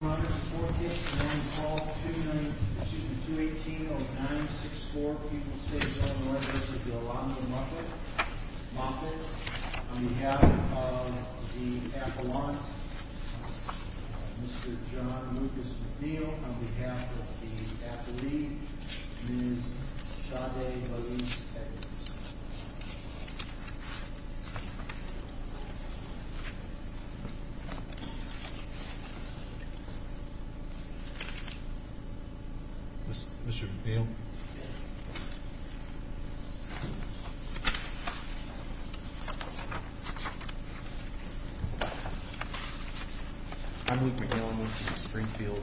On behalf of the appellant, Mr. John Lucas McNeil. On behalf of the appellee, Ms. Chade-Elise Edwards. Mr. McNeil. I'm Luke McNeil. I work for the Springfield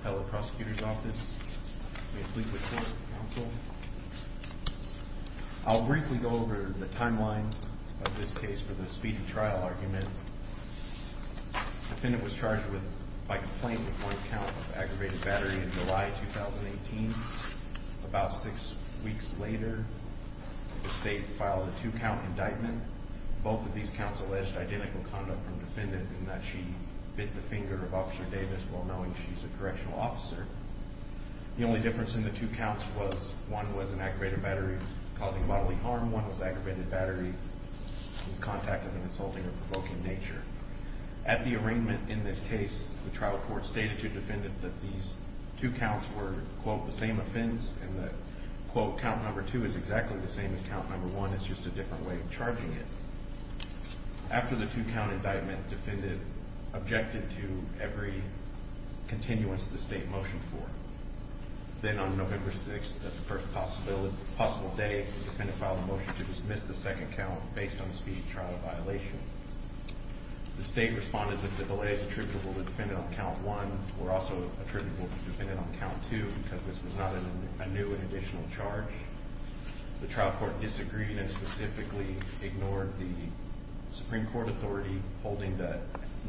Appellate Prosecutor's Office. I'll briefly go over the timeline of this case for the speedy trial argument. The defendant was charged by complaint with one count of aggravated battery in July 2018. About six weeks later, the state filed a two-count indictment. Both of these counts alleged identical conduct from the defendant in that she bit the finger of Officer Davis while knowing she's a correctional officer. The only difference in the two counts was one was an aggravated battery causing bodily harm, one was aggravated battery in contact with an insulting or provoking nature. At the arraignment in this case, the trial court stated to the defendant that these two counts were, quote, the same offense and that, quote, count number two is exactly the same as count number one, it's just a different way of charging it. After the two-count indictment, the defendant objected to every continuance of the state motion for it. Then on November 6th, the first possible day, the defendant filed a motion to dismiss the second count based on speedy trial violation. The state responded that the delays attributable to the defendant on count one were also attributable to the defendant on count two because this was not a new and additional charge. The trial court disagreed and specifically ignored the Supreme Court authority holding that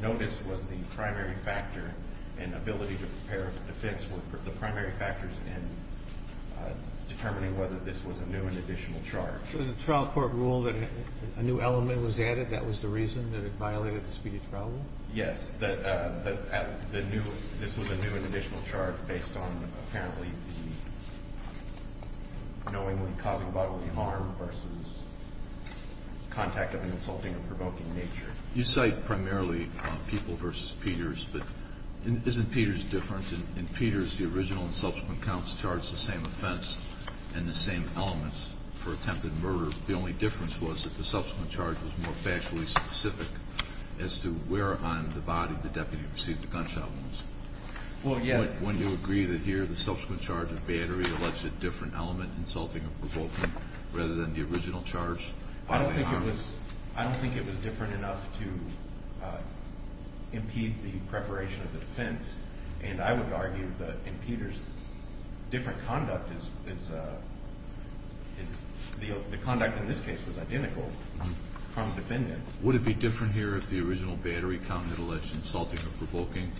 notice was the primary factor and ability to prepare the defense were the primary factors in determining whether this was a new and additional charge. So the trial court ruled that a new element was added, that was the reason that it violated the speedy trial rule? Yes, that the new – this was a new and additional charge based on apparently the knowingly causing bodily harm versus contact of an insulting or provoking nature. You cite primarily Pupil v. Peters, but isn't Peters different? In Peters, the original and subsequent counts charged the same offense and the same elements for attempted murder. The only difference was that the subsequent charge was more factually specific as to where on the body the deputy received the gunshot wounds. Well, yes. Wouldn't you agree that here the subsequent charge of battery alleged a different element, insulting or provoking, rather than the original charge? I don't think it was different enough to impede the preparation of the defense. And I would argue that in Peters, different conduct is – the conduct in this case was identical from the defendant. Would it be different here if the original battery count had alleged insulting or provoking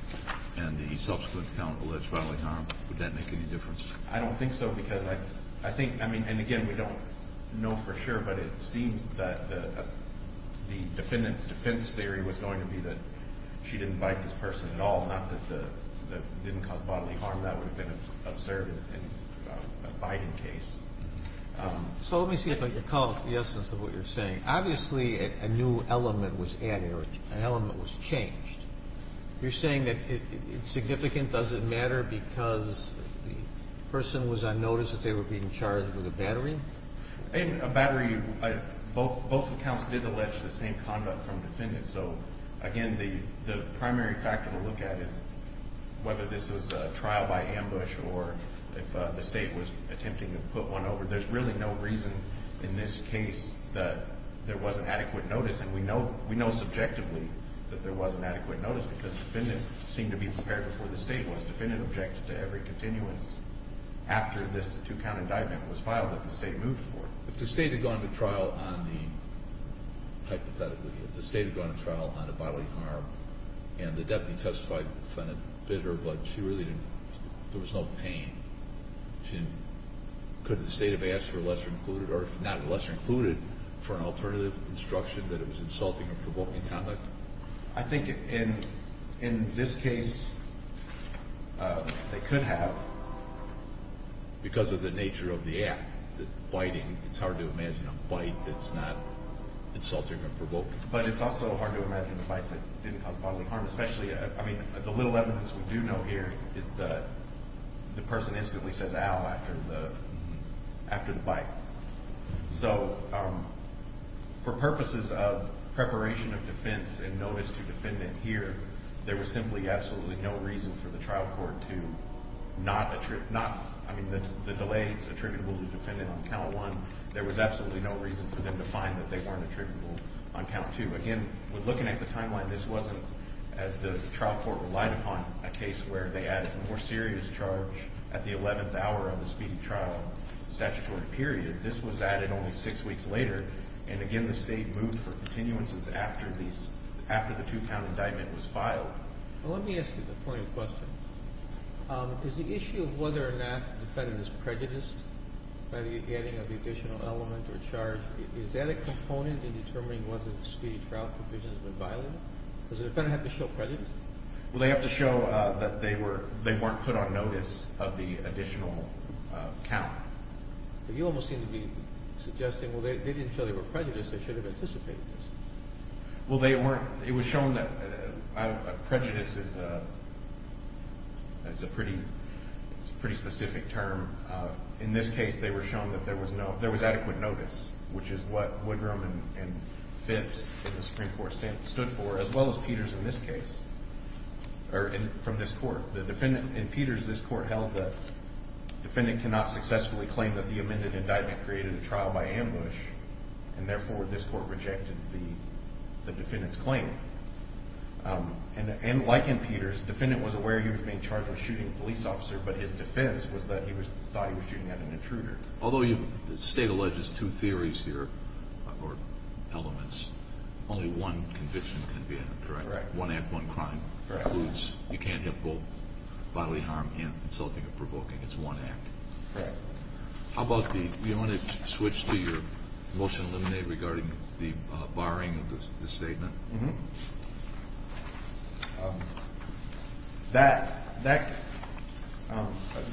and the subsequent count alleged bodily harm? Would that make any difference? I don't think so because I think – I mean, and again, we don't know for sure, but it seems that the defendant's defense theory was going to be that she didn't bite this person at all, not that the – that it didn't cause bodily harm. That would have been observed in a biting case. So let me see if I can call out the essence of what you're saying. Obviously, a new element was added or an element was changed. You're saying that it's significant? Does it matter because the person was on notice that they were being charged with a battery? A battery – both accounts did allege the same conduct from the defendant. So, again, the primary factor to look at is whether this was a trial by ambush or if the state was attempting to put one over. There's really no reason in this case that there wasn't adequate notice, and we know subjectively that there wasn't adequate notice because the defendant seemed to be prepared before the state was. The defendant objected to every continuance after this two-count indictment was filed that the state moved for. If the state had gone to trial on the – hypothetically, if the state had gone to trial on the bodily harm and the deputy testified the defendant bit her, but she really didn't – there was no pain, could the state have asked for a lesser included or if not a lesser included for an alternative instruction that it was insulting or provoking conduct? I think in this case they could have because of the nature of the act, the biting. It's hard to imagine a bite that's not insulting or provoking. But it's also hard to imagine a bite that didn't cause bodily harm, especially – I mean, the little evidence we do know here is that the person instantly says, after the bite. So for purposes of preparation of defense and notice to defendant here, there was simply absolutely no reason for the trial court to not – I mean, the delay is attributable to the defendant on count one. There was absolutely no reason for them to find that they weren't attributable on count two. Again, looking at the timeline, this wasn't, as the trial court relied upon, a case where they added a more serious charge at the 11th hour of the speedy trial statutory period. This was added only six weeks later. And again, the state moved for continuances after the two-count indictment was filed. Let me ask you the following question. Is the issue of whether or not the defendant is prejudiced by the adding of the additional element or charge, is that a component in determining whether the speedy trial provision has been violated? Does the defendant have to show prejudice? Well, they have to show that they weren't put on notice of the additional count. But you almost seem to be suggesting, well, they didn't show they were prejudiced. They should have anticipated this. Well, they weren't. It was shown that prejudice is a pretty specific term. In this case, they were shown that there was adequate notice, which is what Woodrum and Phipps in the Supreme Court stood for, as well as Peters in this case, or from this court. In Peters, this court held that the defendant cannot successfully claim that the amended indictment created a trial by ambush, and therefore this court rejected the defendant's claim. And like in Peters, the defendant was aware he was being charged with shooting a police officer, but his defense was that he thought he was shooting at an intruder. Although the State alleges two theories here, or elements, only one conviction can be a direct. Right. One act, one crime. Right. Includes you can't have both bodily harm and insulting or provoking. It's one act. Right. How about the ‑‑ do you want to switch to your motion eliminated regarding the barring of the statement? That ‑‑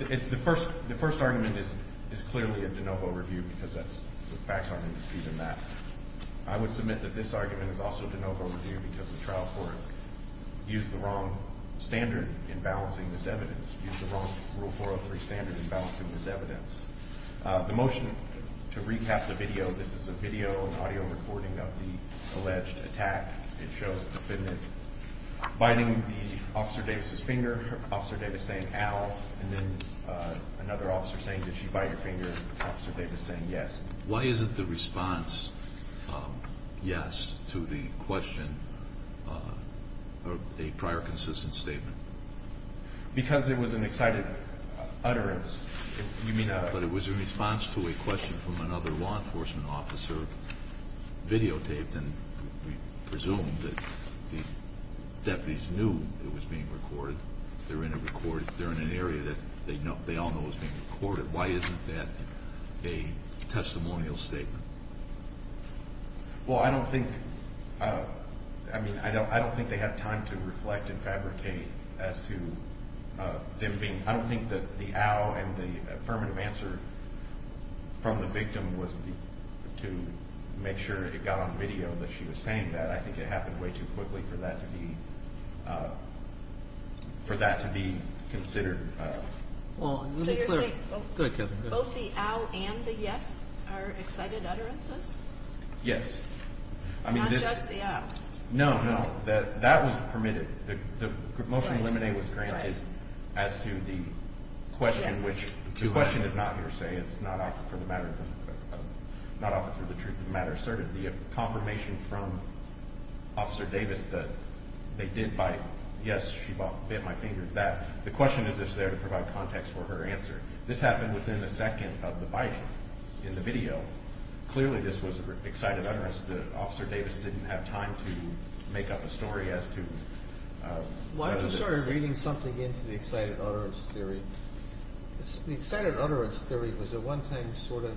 the first argument is clearly a de novo review because that's the facts aren't in dispute in that. I would submit that this argument is also a de novo review because the trial court used the wrong standard in balancing this evidence, used the wrong Rule 403 standard in balancing this evidence. The motion to recap the video, this is a video and audio recording of the alleged attack, it shows the defendant biting Officer Davis' finger, Officer Davis saying, ow, and then another officer saying, did she bite your finger, Officer Davis saying, yes. Why isn't the response yes to the question a prior consistent statement? Because it was an excited utterance. You mean, but it was in response to a question from another law enforcement officer videotaped and we presume that the deputies knew it was being recorded. They're in an area that they all know is being recorded. Why isn't that a testimonial statement? Well, I don't think ‑‑ I mean, I don't think they had time to reflect and fabricate as to them being ‑‑ I don't think that the ow and the affirmative answer from the victim was to make sure it got on video that she was saying that. I think it happened way too quickly for that to be considered. So you're saying both the ow and the yes are excited utterances? Yes. Not just the ow. No, no. That was permitted. The motion limiting was granted as to the question, which the question is not here to say. It's not offered for the truth of the matter asserted. The confirmation from Officer Davis that they did bite, yes, she bit my finger, that the question is there to provide context for her answer. This happened within a second of the biting in the video. Clearly this was an excited utterance. Officer Davis didn't have time to make up a story as to ‑‑ Why don't you start reading something into the excited utterance theory? The excited utterance theory was at one time sort of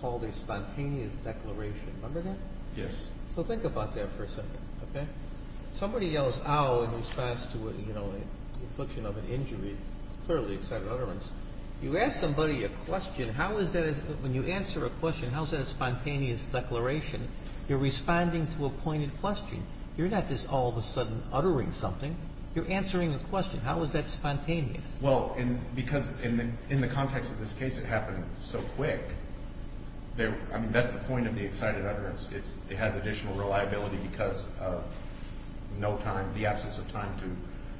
called a spontaneous declaration. Remember that? Yes. So think about that for a second, okay? Somebody yells ow in response to an infliction of an injury. Clearly excited utterance. You ask somebody a question, how is that ‑‑ when you answer a question, how is that a spontaneous declaration? You're responding to a pointed question. You're not just all of a sudden uttering something. You're answering a question. How is that spontaneous? Well, because in the context of this case it happened so quick. I mean, that's the point of the excited utterance. It has additional reliability because of no time, the absence of time to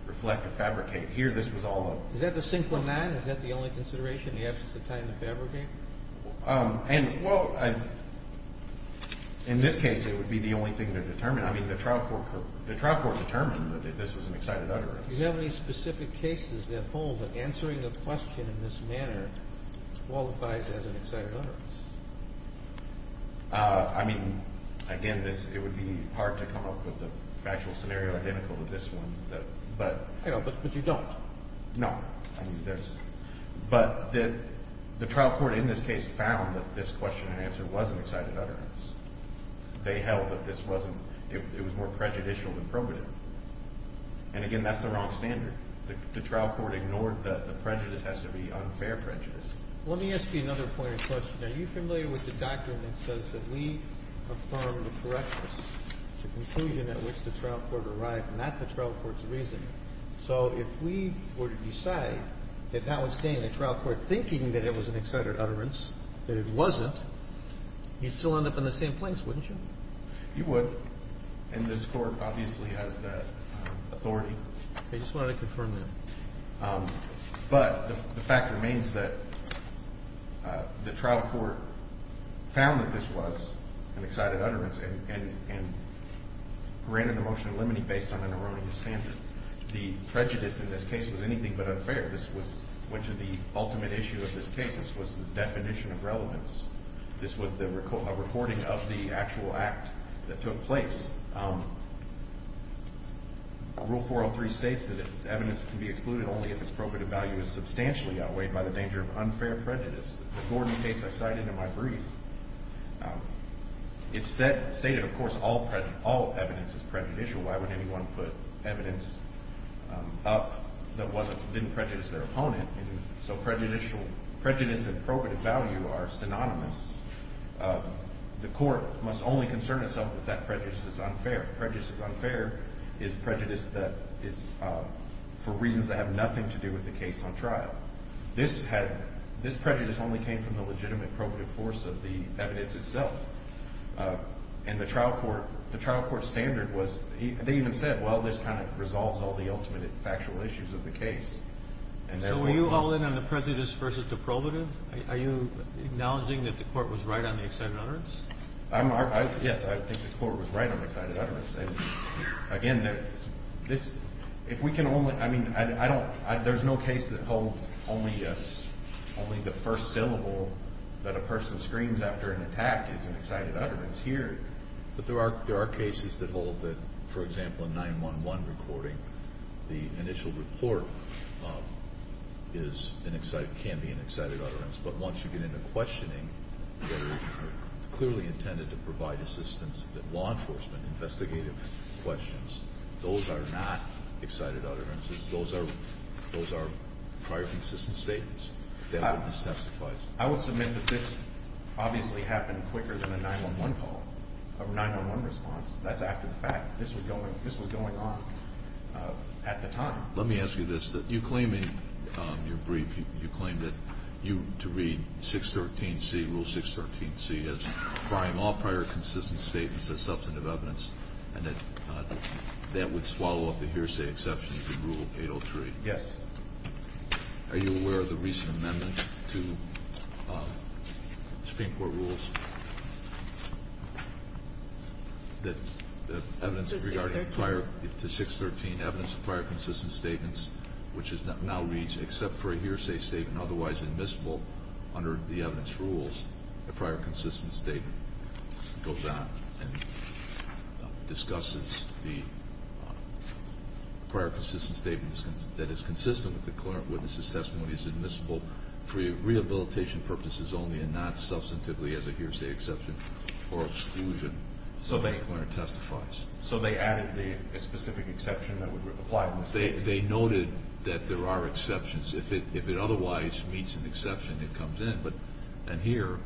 reflect or fabricate. Here this was all a ‑‑ Is that the single man? Is that the only consideration, the absence of time to fabricate? Well, in this case it would be the only thing to determine. I mean, the trial court determined that this was an excited utterance. Do you have any specific cases that hold that answering a question in this manner qualifies as an excited utterance? I mean, again, it would be hard to come up with an actual scenario identical to this one. But you don't? No. But the trial court in this case found that this question and answer was an excited utterance. They held that this was more prejudicial than probative. And, again, that's the wrong standard. The trial court ignored the prejudice has to be unfair prejudice. Let me ask you another pointed question. Are you familiar with the doctrine that says that we affirm the correctness, the conclusion at which the trial court arrived, not the trial court's reasoning? So if we were to decide that that would stand the trial court thinking that it was an excited utterance, that it wasn't, you'd still end up in the same place, wouldn't you? You would. And this court obviously has that authority. I just wanted to confirm that. But the fact remains that the trial court found that this was an excited utterance and granted the motion of limine based on an erroneous standard. The prejudice in this case was anything but unfair. This went to the ultimate issue of this case. This was the definition of relevance. This was a recording of the actual act that took place. Rule 403 states that evidence can be excluded only if its probative value is substantially outweighed by the danger of unfair prejudice. The Gordon case I cited in my brief, it stated, of course, all evidence is prejudicial. Why would anyone put evidence up that didn't prejudice their opponent? So prejudice and probative value are synonymous. The court must only concern itself with that prejudice that's unfair. Prejudice that's unfair is prejudice that is for reasons that have nothing to do with the case on trial. This prejudice only came from the legitimate probative force of the evidence itself. And the trial court standard was they even said, well, this kind of resolves all the ultimate factual issues of the case. So were you all in on the prejudice versus the probative? Are you acknowledging that the court was right on the excited utterance? Yes, I think the court was right on the excited utterance. Again, this, if we can only, I mean, I don't, there's no case that holds only the first syllable that a person screams after an attack is an excited utterance. Here. But there are cases that hold that, for example, in 911 recording, the initial report is an excited, can be an excited utterance. But once you get into questioning, they're clearly intended to provide assistance that law enforcement investigative questions. Those are not excited utterances. Those are those are prior consistent statements that this testifies. I would submit that this obviously happened quicker than a 911 call or 911 response. That's after the fact. This was going, this was going on at the time. Let me ask you this. You claim in your brief, you claim that you, to read 613C, Rule 613C, as providing all prior consistent statements as substantive evidence, and that that would swallow up the hearsay exceptions in Rule 803. Yes. Are you aware of the recent amendment to Supreme Court rules that evidence regarding prior, to 613, evidence of prior consistent statements, which is now reads, except for a hearsay statement otherwise admissible under the evidence rules, a prior consistent statement goes on and discusses the prior consistent statements that is consistent with the clearant witness's testimony is admissible for rehabilitation purposes only and not substantively as a hearsay exception or exclusion. So they added the specific exception that would apply. They noted that there are exceptions. If it otherwise meets an exception, it comes in. And here,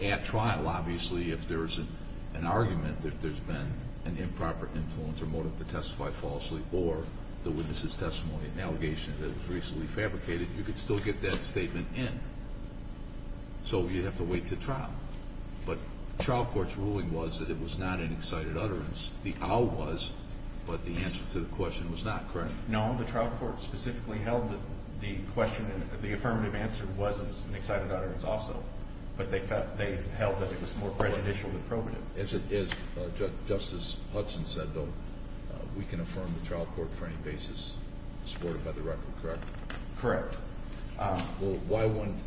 at trial, obviously, if there's an argument that there's been an improper influence or motive to testify falsely or the witness's testimony, an allegation that was recently fabricated, you could still get that statement in. So you'd have to wait to trial. But trial court's ruling was that it was not an excited utterance. The how was, but the answer to the question was not, correct? No. The trial court specifically held that the question and the affirmative answer was an excited utterance also. But they held that it was more prejudicial than probative. As Justice Hudson said, though, we can affirm the trial court for any basis supported by the record, correct? Correct. Well, why wouldn't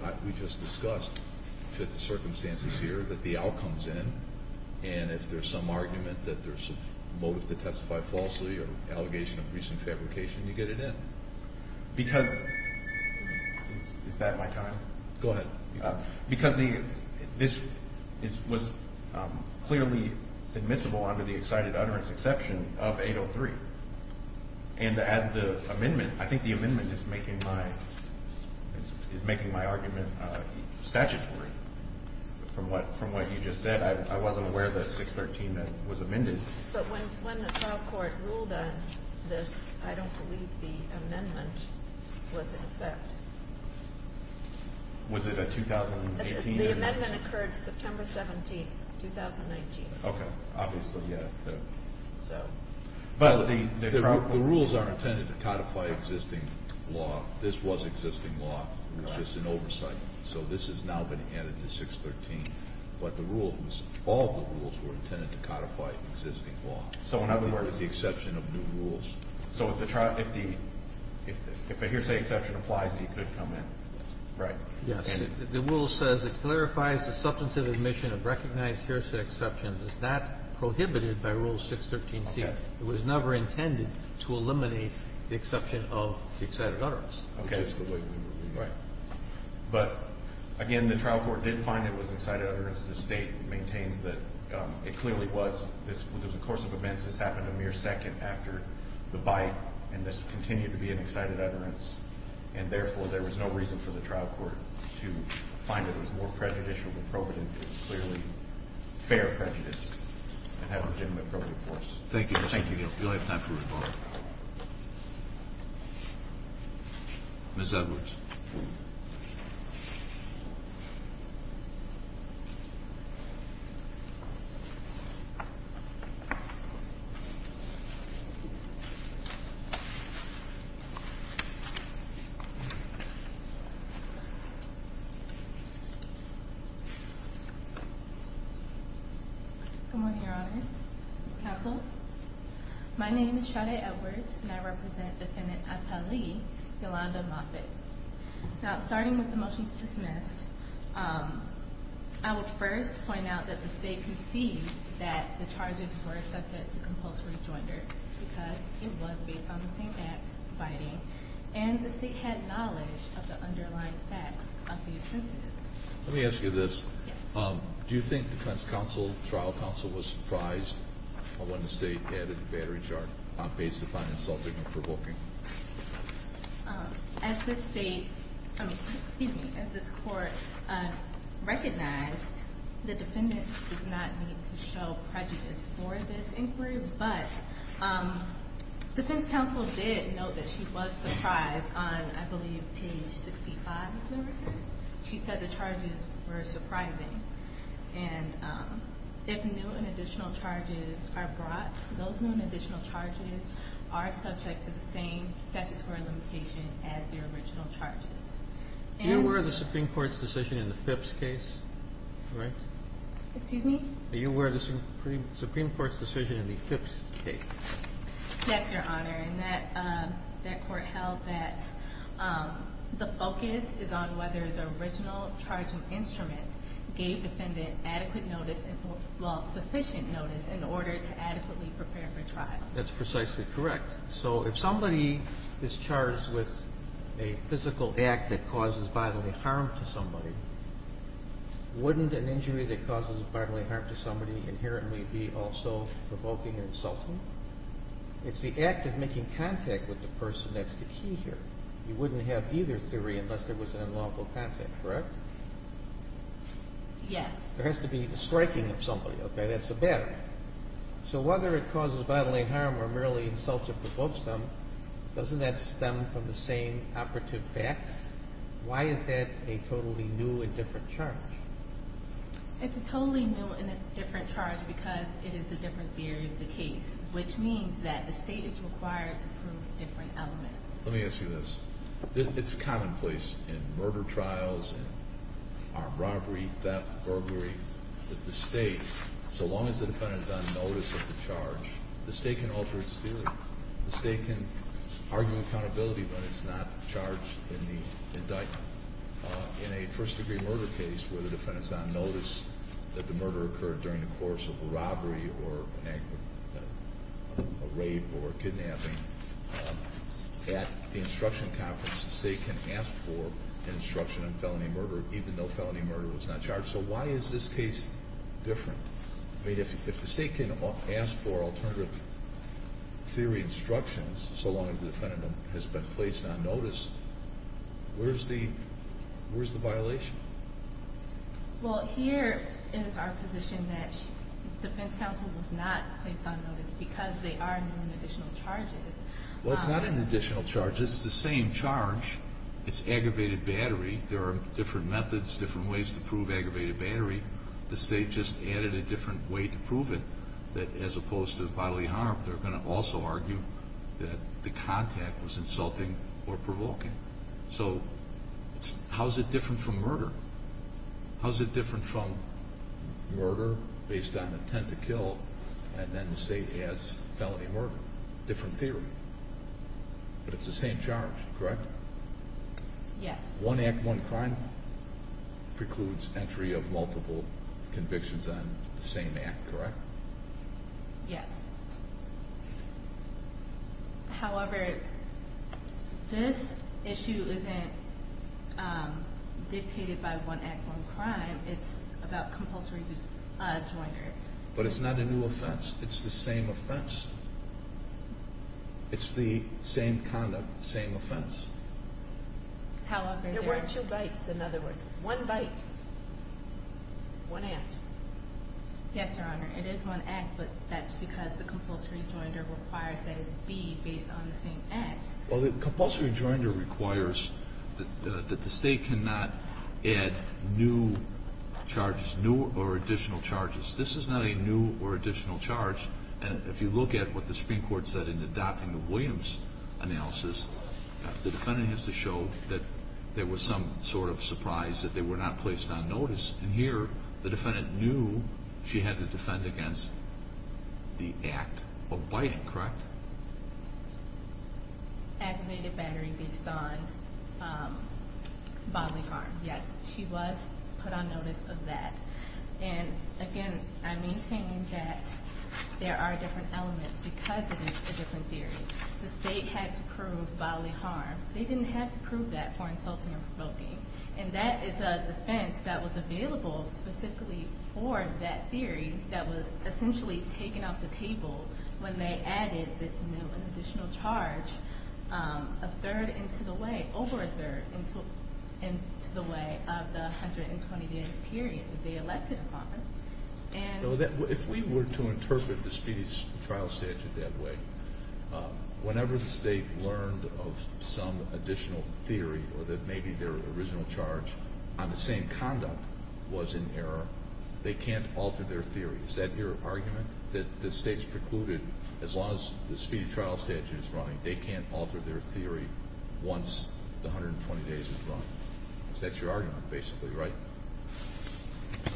what we just discussed fit the circumstances here that the outcome's in? And if there's some argument that there's a motive to testify falsely or allegation of recent fabrication, you get it in? Because is that my time? Go ahead. Because this was clearly admissible under the excited utterance exception of 803. And as the amendment, I think the amendment is making my argument statutory. From what you just said, I wasn't aware that 613 was amended. But when the trial court ruled on this, I don't believe the amendment was in effect. Was it a 2018 amendment? The amendment occurred September 17th, 2019. Okay. Obviously, yeah. But the rules aren't intended to codify existing law. This was existing law. It was just an oversight. So this has now been added to 613. But the rule was all the rules were intended to codify existing law. So in other words? With the exception of new rules. So if the hearsay exception applies, he could come in? Right. Yes. The rule says it clarifies the substantive admission of recognized hearsay exception. It's not prohibited by Rule 613C. Okay. It was never intended to eliminate the exception of the excited utterance. Okay. Which is the way we would read it. Right. But, again, the trial court did find it was an excited utterance. The State maintains that it clearly was. This was a course of events. This happened a mere second after the bite. And this continued to be an excited utterance. And, therefore, there was no reason for the trial court to find it was more prejudicial than appropriate. It was clearly fair prejudice. It hadn't been the appropriate course. Thank you. We only have time for one more. Ms. Edwards. Good morning, Your Honors. Counsel. My name is Shada Edwards, and I represent Defendant Apali Yolanda Moffitt. Now, starting with the motion to dismiss, I would first point out that the State conceived that the charges were subject to compulsory joinder because it was based on the same act, biting, and the State had knowledge of the underlying facts of the offenses. Let me ask you this. Yes. Do you think defense counsel, trial counsel, was surprised when the State added battery charge based upon insulting or provoking? As the State, excuse me, as this court recognized, the defendant does not need to show prejudice for this inquiry, but defense counsel did note that she was surprised on, I believe, page 65 of the record. She said the charges were surprising. And if new and additional charges are brought, those new and additional charges are subject to the same statutory limitation as their original charges. Are you aware of the Supreme Court's decision in the Phipps case? Excuse me? Are you aware of the Supreme Court's decision in the Phipps case? Yes, Your Honor. And that court held that the focus is on whether the original charge of instrument gave defendant adequate notice and, well, sufficient notice in order to adequately prepare for trial. That's precisely correct. So if somebody is charged with a physical act that causes bodily harm to somebody, wouldn't an injury that causes bodily harm to somebody inherently be also provoking and insulting? It's the act of making contact with the person that's the key here. You wouldn't have either theory unless there was an unlawful contact, correct? Yes. There has to be the striking of somebody, okay? That's a battle. So whether it causes bodily harm or merely insults or provokes them, doesn't that stem from the same operative facts? Why is that a totally new and different charge? It's a totally new and different charge because it is a different theory of the case, which means that the state is required to prove different elements. Let me ask you this. It's commonplace in murder trials, in robbery, theft, burglary, that the state, so long as the defendant is on notice of the charge, the state can alter its theory. The state can argue accountability when it's not charged in the indictment. In a first-degree murder case where the defendant is on notice that the murder occurred during the course of a robbery or a rape or a kidnapping, at the instruction conference, the state can ask for an instruction on felony murder even though felony murder was not charged. So why is this case different? If the state can ask for alternative theory instructions so long as the defendant has been placed on notice, where's the violation? Well, here is our position that the defense counsel was not placed on notice because they are known additional charges. Well, it's not an additional charge. It's the same charge. It's aggravated battery. There are different methods, different ways to prove aggravated battery. The state just added a different way to prove it that as opposed to bodily harm, they're going to also argue that the contact was insulting or provoking. So how is it different from murder? How is it different from murder based on intent to kill and then the state has felony murder? Different theory. But it's the same charge, correct? Yes. One act, one crime precludes entry of multiple convictions on the same act, correct? Yes. However, this issue isn't dictated by one act, one crime. It's about compulsory disjoinder. But it's not a new offense. It's the same offense. It's the same conduct, same offense. However, there were two bites, in other words. One bite, one act. Yes, Your Honor. It is one act, but that's because the compulsory disjoinder requires that it be based on the same act. Well, the compulsory disjoinder requires that the state cannot add new charges, new or additional charges. This is not a new or additional charge. And if you look at what the Supreme Court said in adopting the Williams analysis, the defendant has to show that there was some sort of surprise, that they were not placed on notice. And here, the defendant knew she had to defend against the act of biting, correct? Activated battery based on bodily harm. Yes, she was put on notice of that. And, again, I maintain that there are different elements because it is a different theory. The state had to prove bodily harm. They didn't have to prove that for insulting or provoking. And that is a defense that was available specifically for that theory that was essentially taken off the table when they added this new and additional charge a third into the way, over a third into the way of the 120-day period that they elected upon. If we were to interpret the speedy trial statute that way, whenever the state learned of some additional theory or that maybe their original charge on the same conduct was in error, they can't alter their theory. Is that your argument, that the state's precluded, as long as the speedy trial statute is running, they can't alter their theory once the 120 days is run? That's your argument, basically, right?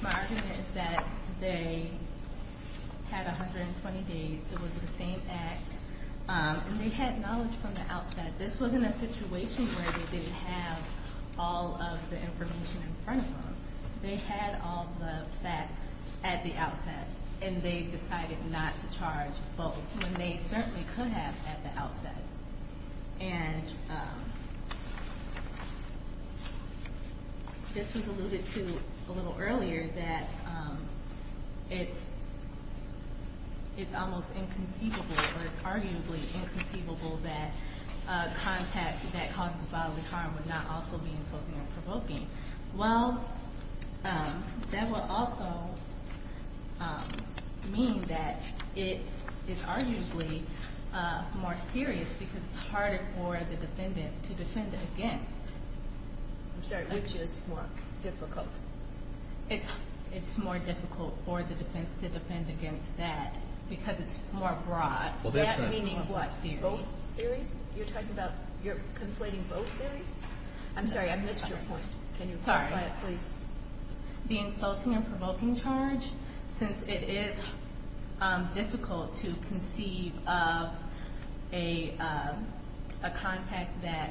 My argument is that they had 120 days. It was the same act. And they had knowledge from the outset. This wasn't a situation where they didn't have all of the information in front of them. They had all the facts at the outset. And they decided not to charge both when they certainly could have at the outset. And this was alluded to a little earlier that it's almost inconceivable or it's arguably inconceivable that a contact that causes bodily harm would not also be insulting or provoking. Well, that would also mean that it is arguably more serious because it's harder for the defendant to defend against. I'm sorry, which is more difficult? It's more difficult for the defense to defend against that because it's more broad. That meaning what theory? Both theories? You're talking about you're conflating both theories? I'm sorry, I missed your point. Can you clarify it, please? Sorry. The insulting and provoking charge, since it is difficult to conceive of a contact that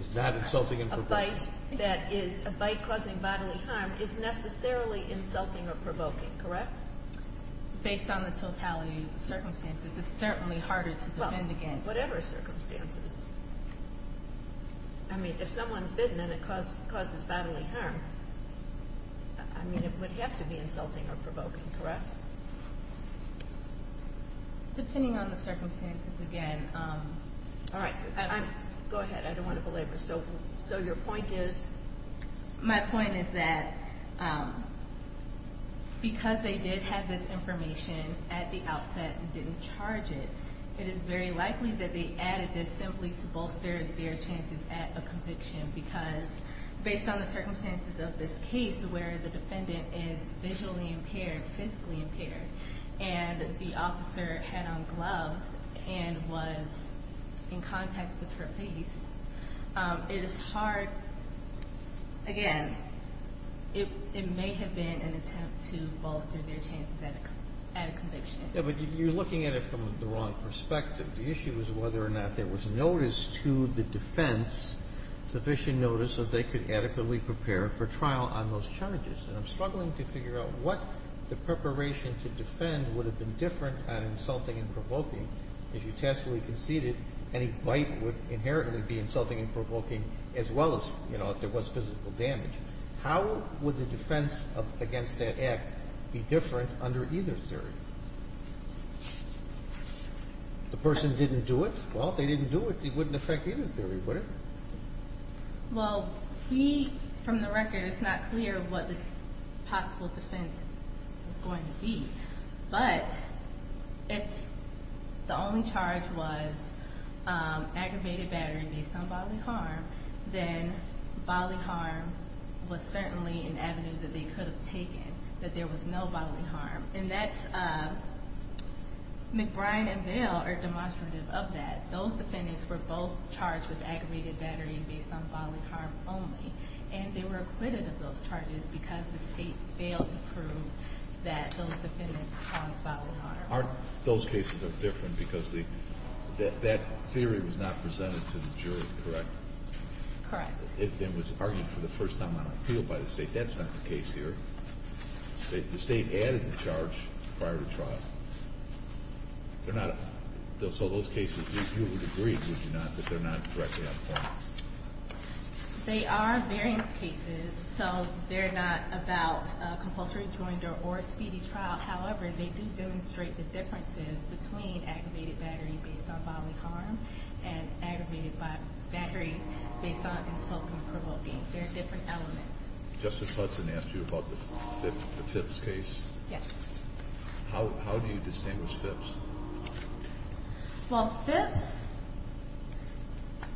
is not insulting and provoking. A bite that is a bite causing bodily harm is necessarily insulting or provoking, correct? Based on the totality of the circumstances, it's certainly harder to defend against. Well, whatever circumstances. I mean, if someone's bitten and it causes bodily harm, I mean, it would have to be insulting or provoking, correct? Depending on the circumstances, again. All right. Go ahead. I don't want to belabor. So your point is? My point is that because they did have this information at the outset and didn't charge it, it is very likely that they added this simply to bolster their chances at a conviction because based on the circumstances of this case where the defendant is visually impaired, physically impaired, and the officer had on gloves and was in contact with her face, it is hard, again, it may have been an attempt to bolster their chances at a conviction. Yeah, but you're looking at it from the wrong perspective. The issue is whether or not there was notice to the defense, sufficient notice, that they could adequately prepare for trial on those charges. And I'm struggling to figure out what the preparation to defend would have been different on insulting and provoking. If you taskfully conceded, any bite would inherently be insulting and provoking as well as, you know, if there was physical damage. How would the defense against that act be different under either theory? The person didn't do it? Well, if they didn't do it, it wouldn't affect either theory, would it? Well, we, from the record, it's not clear what the possible defense was going to be. But if the only charge was aggravated battery based on bodily harm, then bodily harm was certainly an avenue that they could have taken, that there was no bodily harm. And McBride and Bale are demonstrative of that. Those defendants were both charged with aggravated battery based on bodily harm only. And they were acquitted of those charges because the state failed to prove that those defendants caused bodily harm. Those cases are different because that theory was not presented to the jury, correct? Correct. It was argued for the first time on appeal by the state. That's not the case here. The state added the charge prior to trial. So those cases, you would agree, would you not, that they're not directly on appeal? They are variance cases, so they're not about compulsory rejoinder or a speedy trial. However, they do demonstrate the differences between aggravated battery based on bodily harm and aggravated battery based on insulting and provoking. They're different elements. Justice Hudson asked you about the Phipps case. Yes. How do you distinguish Phipps? Well, Phipps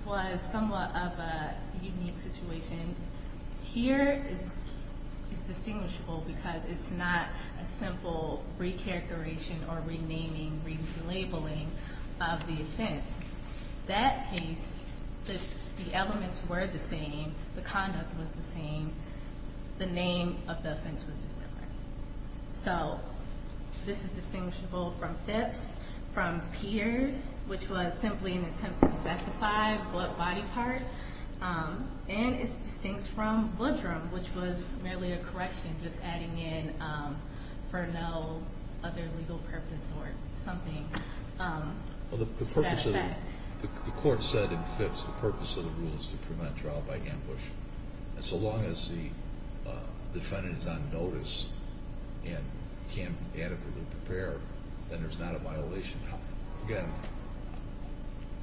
was somewhat of a unique situation. Here it's distinguishable because it's not a simple recharacterization or renaming, relabeling of the offense. That case, the elements were the same. The conduct was the same. The name of the offense was just different. So this is distinguishable from Phipps, from Peters, which was simply an attempt to specify what body part, and it's distinct from Woodrum, which was merely a correction, just adding in for no other legal purpose or something to that effect. The court said in Phipps the purpose of the rule is to prevent trial by ambush. And so long as the defendant is on notice and can be adequately prepared, then there's not a violation. Again,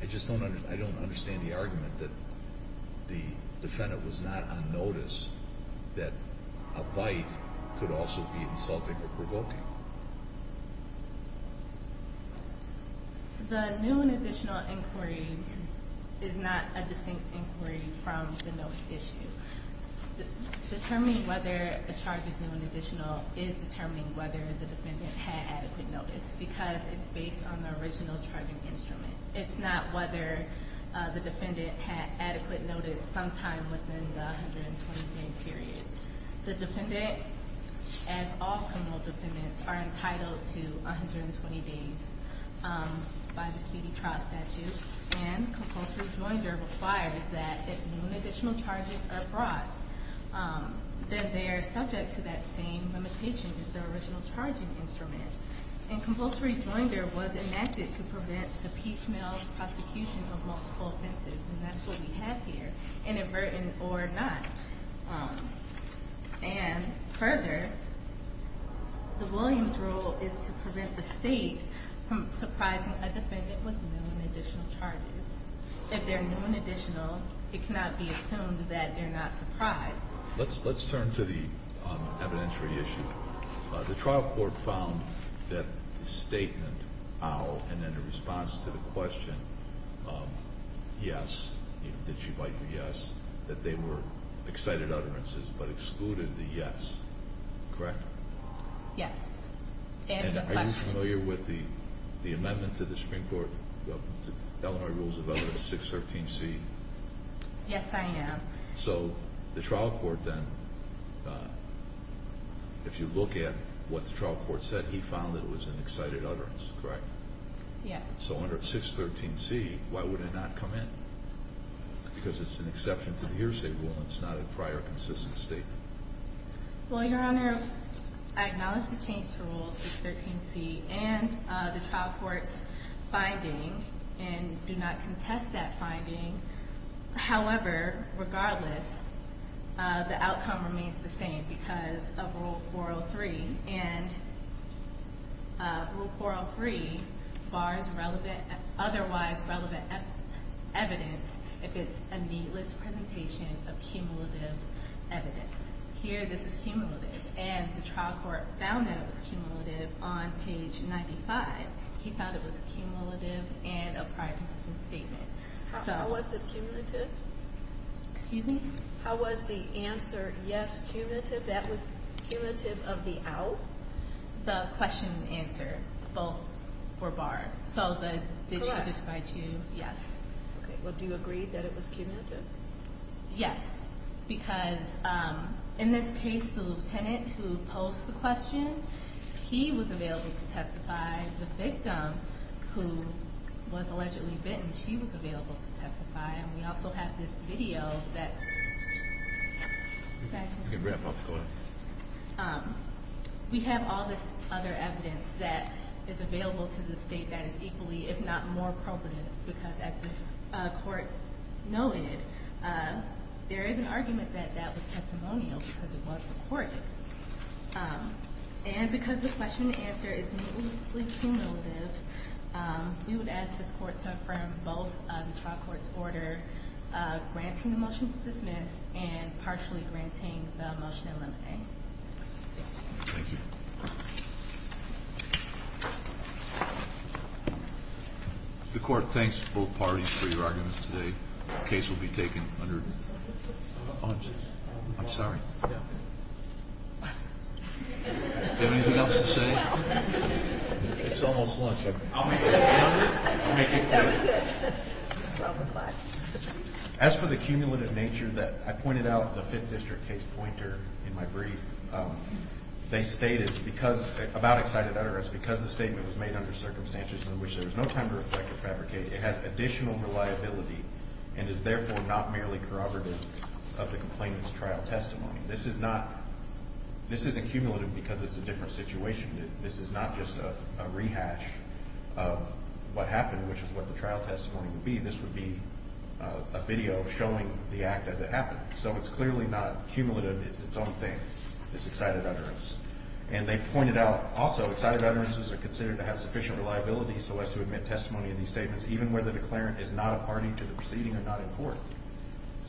I just don't understand the argument that the defendant was not on notice, that a bite could also be insulting or provoking. The new and additional inquiry is not a distinct inquiry from the notice issue. Determining whether a charge is new and additional is determining whether the defendant had adequate notice because it's based on the original charging instrument. It's not whether the defendant had adequate notice sometime within the 120-day period. The defendant, as all criminal defendants, are entitled to 120 days by the speedy trial statute. And compulsory joinder requires that if new and additional charges are brought, then they are subject to that same limitation as the original charging instrument. And compulsory joinder was enacted to prevent the piecemeal prosecution of multiple offenses, and that's what we have here, inadvertent or not. And further, the Williams rule is to prevent the state from surprising a defendant with new and additional charges. If they're new and additional, it cannot be assumed that they're not surprised. Let's turn to the evidentiary issue. The trial court found that the statement, how, and then the response to the question, yes, did she bite the yes, that they were excited utterances but excluded the yes. Correct? Yes. Are you familiar with the amendment to the Supreme Court, Eleanor Rules of Elevation 613C? Yes, I am. So the trial court then, if you look at what the trial court said, he found it was an excited utterance, correct? Yes. So under 613C, why would it not come in? Because it's an exception to the hearsay rule and it's not a prior consistent statement. Well, Your Honor, I acknowledge the change to Rule 613C and the trial court's finding and do not contest that finding. However, regardless, the outcome remains the same because of Rule 403. And Rule 403 bars relevant, otherwise relevant evidence if it's a needless presentation of cumulative evidence. Here, this is cumulative. And the trial court found that it was cumulative on page 95. He found it was cumulative in a prior consistent statement. How was it cumulative? Excuse me? How was the answer, yes, cumulative? That was cumulative of the out? The question and answer, both were barred. So the did she testify to, yes. Well, do you agree that it was cumulative? Yes, because in this case, the lieutenant who posed the question, he was available to testify. The victim who was allegedly bitten, she was available to testify. And we also have this video that we have all this other evidence that is available to the state that is equally, if not more, appropriate. Because at this court noted, there is an argument that that was testimonial because it was recorded. And because the question and answer is needlessly cumulative, we would ask this court to affirm both the trial court's order granting the motion to dismiss and partially granting the motion to eliminate. Thank you. The court thanks both parties for your arguments today. The case will be taken under. I'm sorry. Do you have anything else to say? It's almost lunch. I'll make it quick. That was it. It's 12 o'clock. As for the cumulative nature that I pointed out, the Fifth District case pointer in my brief, they stated because about excited utterance, because the statement was made under circumstances in which there is no time to reflect or fabricate, it has additional reliability and is therefore not merely corroborative of the complainant's trial testimony. This is not – this isn't cumulative because it's a different situation. This is not just a rehash of what happened, which is what the trial testimony would be. This would be a video showing the act as it happened. So it's clearly not cumulative. It's its own thing, this excited utterance. And they pointed out also excited utterances are considered to have sufficient reliability so as to admit testimony in these statements, even where the declarant is not a party to the proceeding or not in court.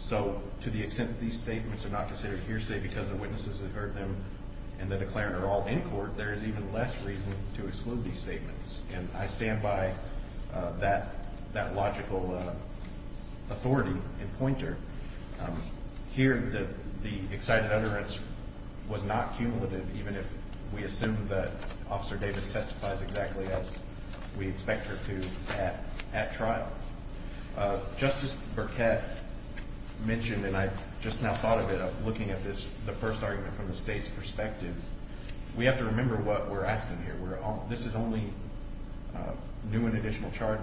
So to the extent that these statements are not considered hearsay because the witnesses have heard them and the declarant are all in court, there is even less reason to exclude these statements. And I stand by that logical authority and pointer. Here, the excited utterance was not cumulative, even if we assume that Officer Davis testifies exactly as we expect her to at trial. Justice Burkett mentioned, and I just now thought of it looking at this, the first argument from the State's perspective. We have to remember what we're asking here. This is only new and additional charge.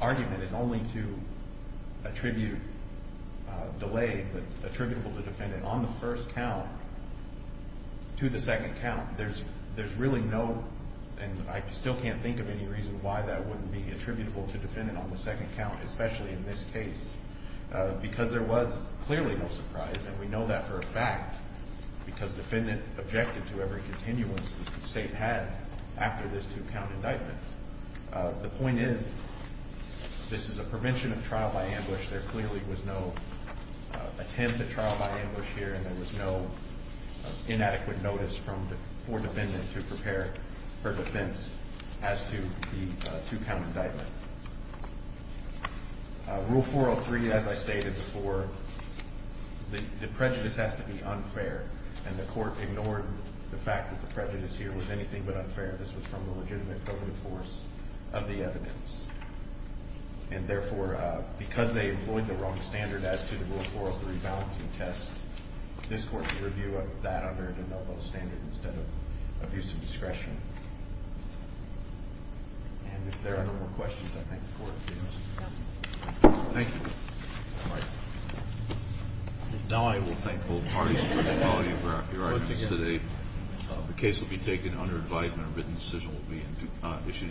Argument is only to attribute delay attributable to defendant on the first count to the second count. There's really no, and I still can't think of any reason why that wouldn't be attributable to defendant on the second count, especially in this case, because there was clearly no surprise. And we know that for a fact because defendant objected to every continuance the State had after this two-count indictment. The point is this is a prevention of trial by ambush. There clearly was no attempt at trial by ambush here, and there was no inadequate notice for defendant to prepare her defense as to the two-count indictment. Rule 403, as I stated before, the prejudice has to be unfair, and the court ignored the fact that the prejudice here was anything but unfair. This was from the legitimate code of force of the evidence. And therefore, because they employed the wrong standard as to the rule 403 balancing test, this court's review of that under a de novo standard instead of abuse of discretion. And if there are no more questions, I thank the Court. Thank you. Now I will thank both parties for the quality of their arguments today. The case will be taken under advisement. A written decision will be issued in due course.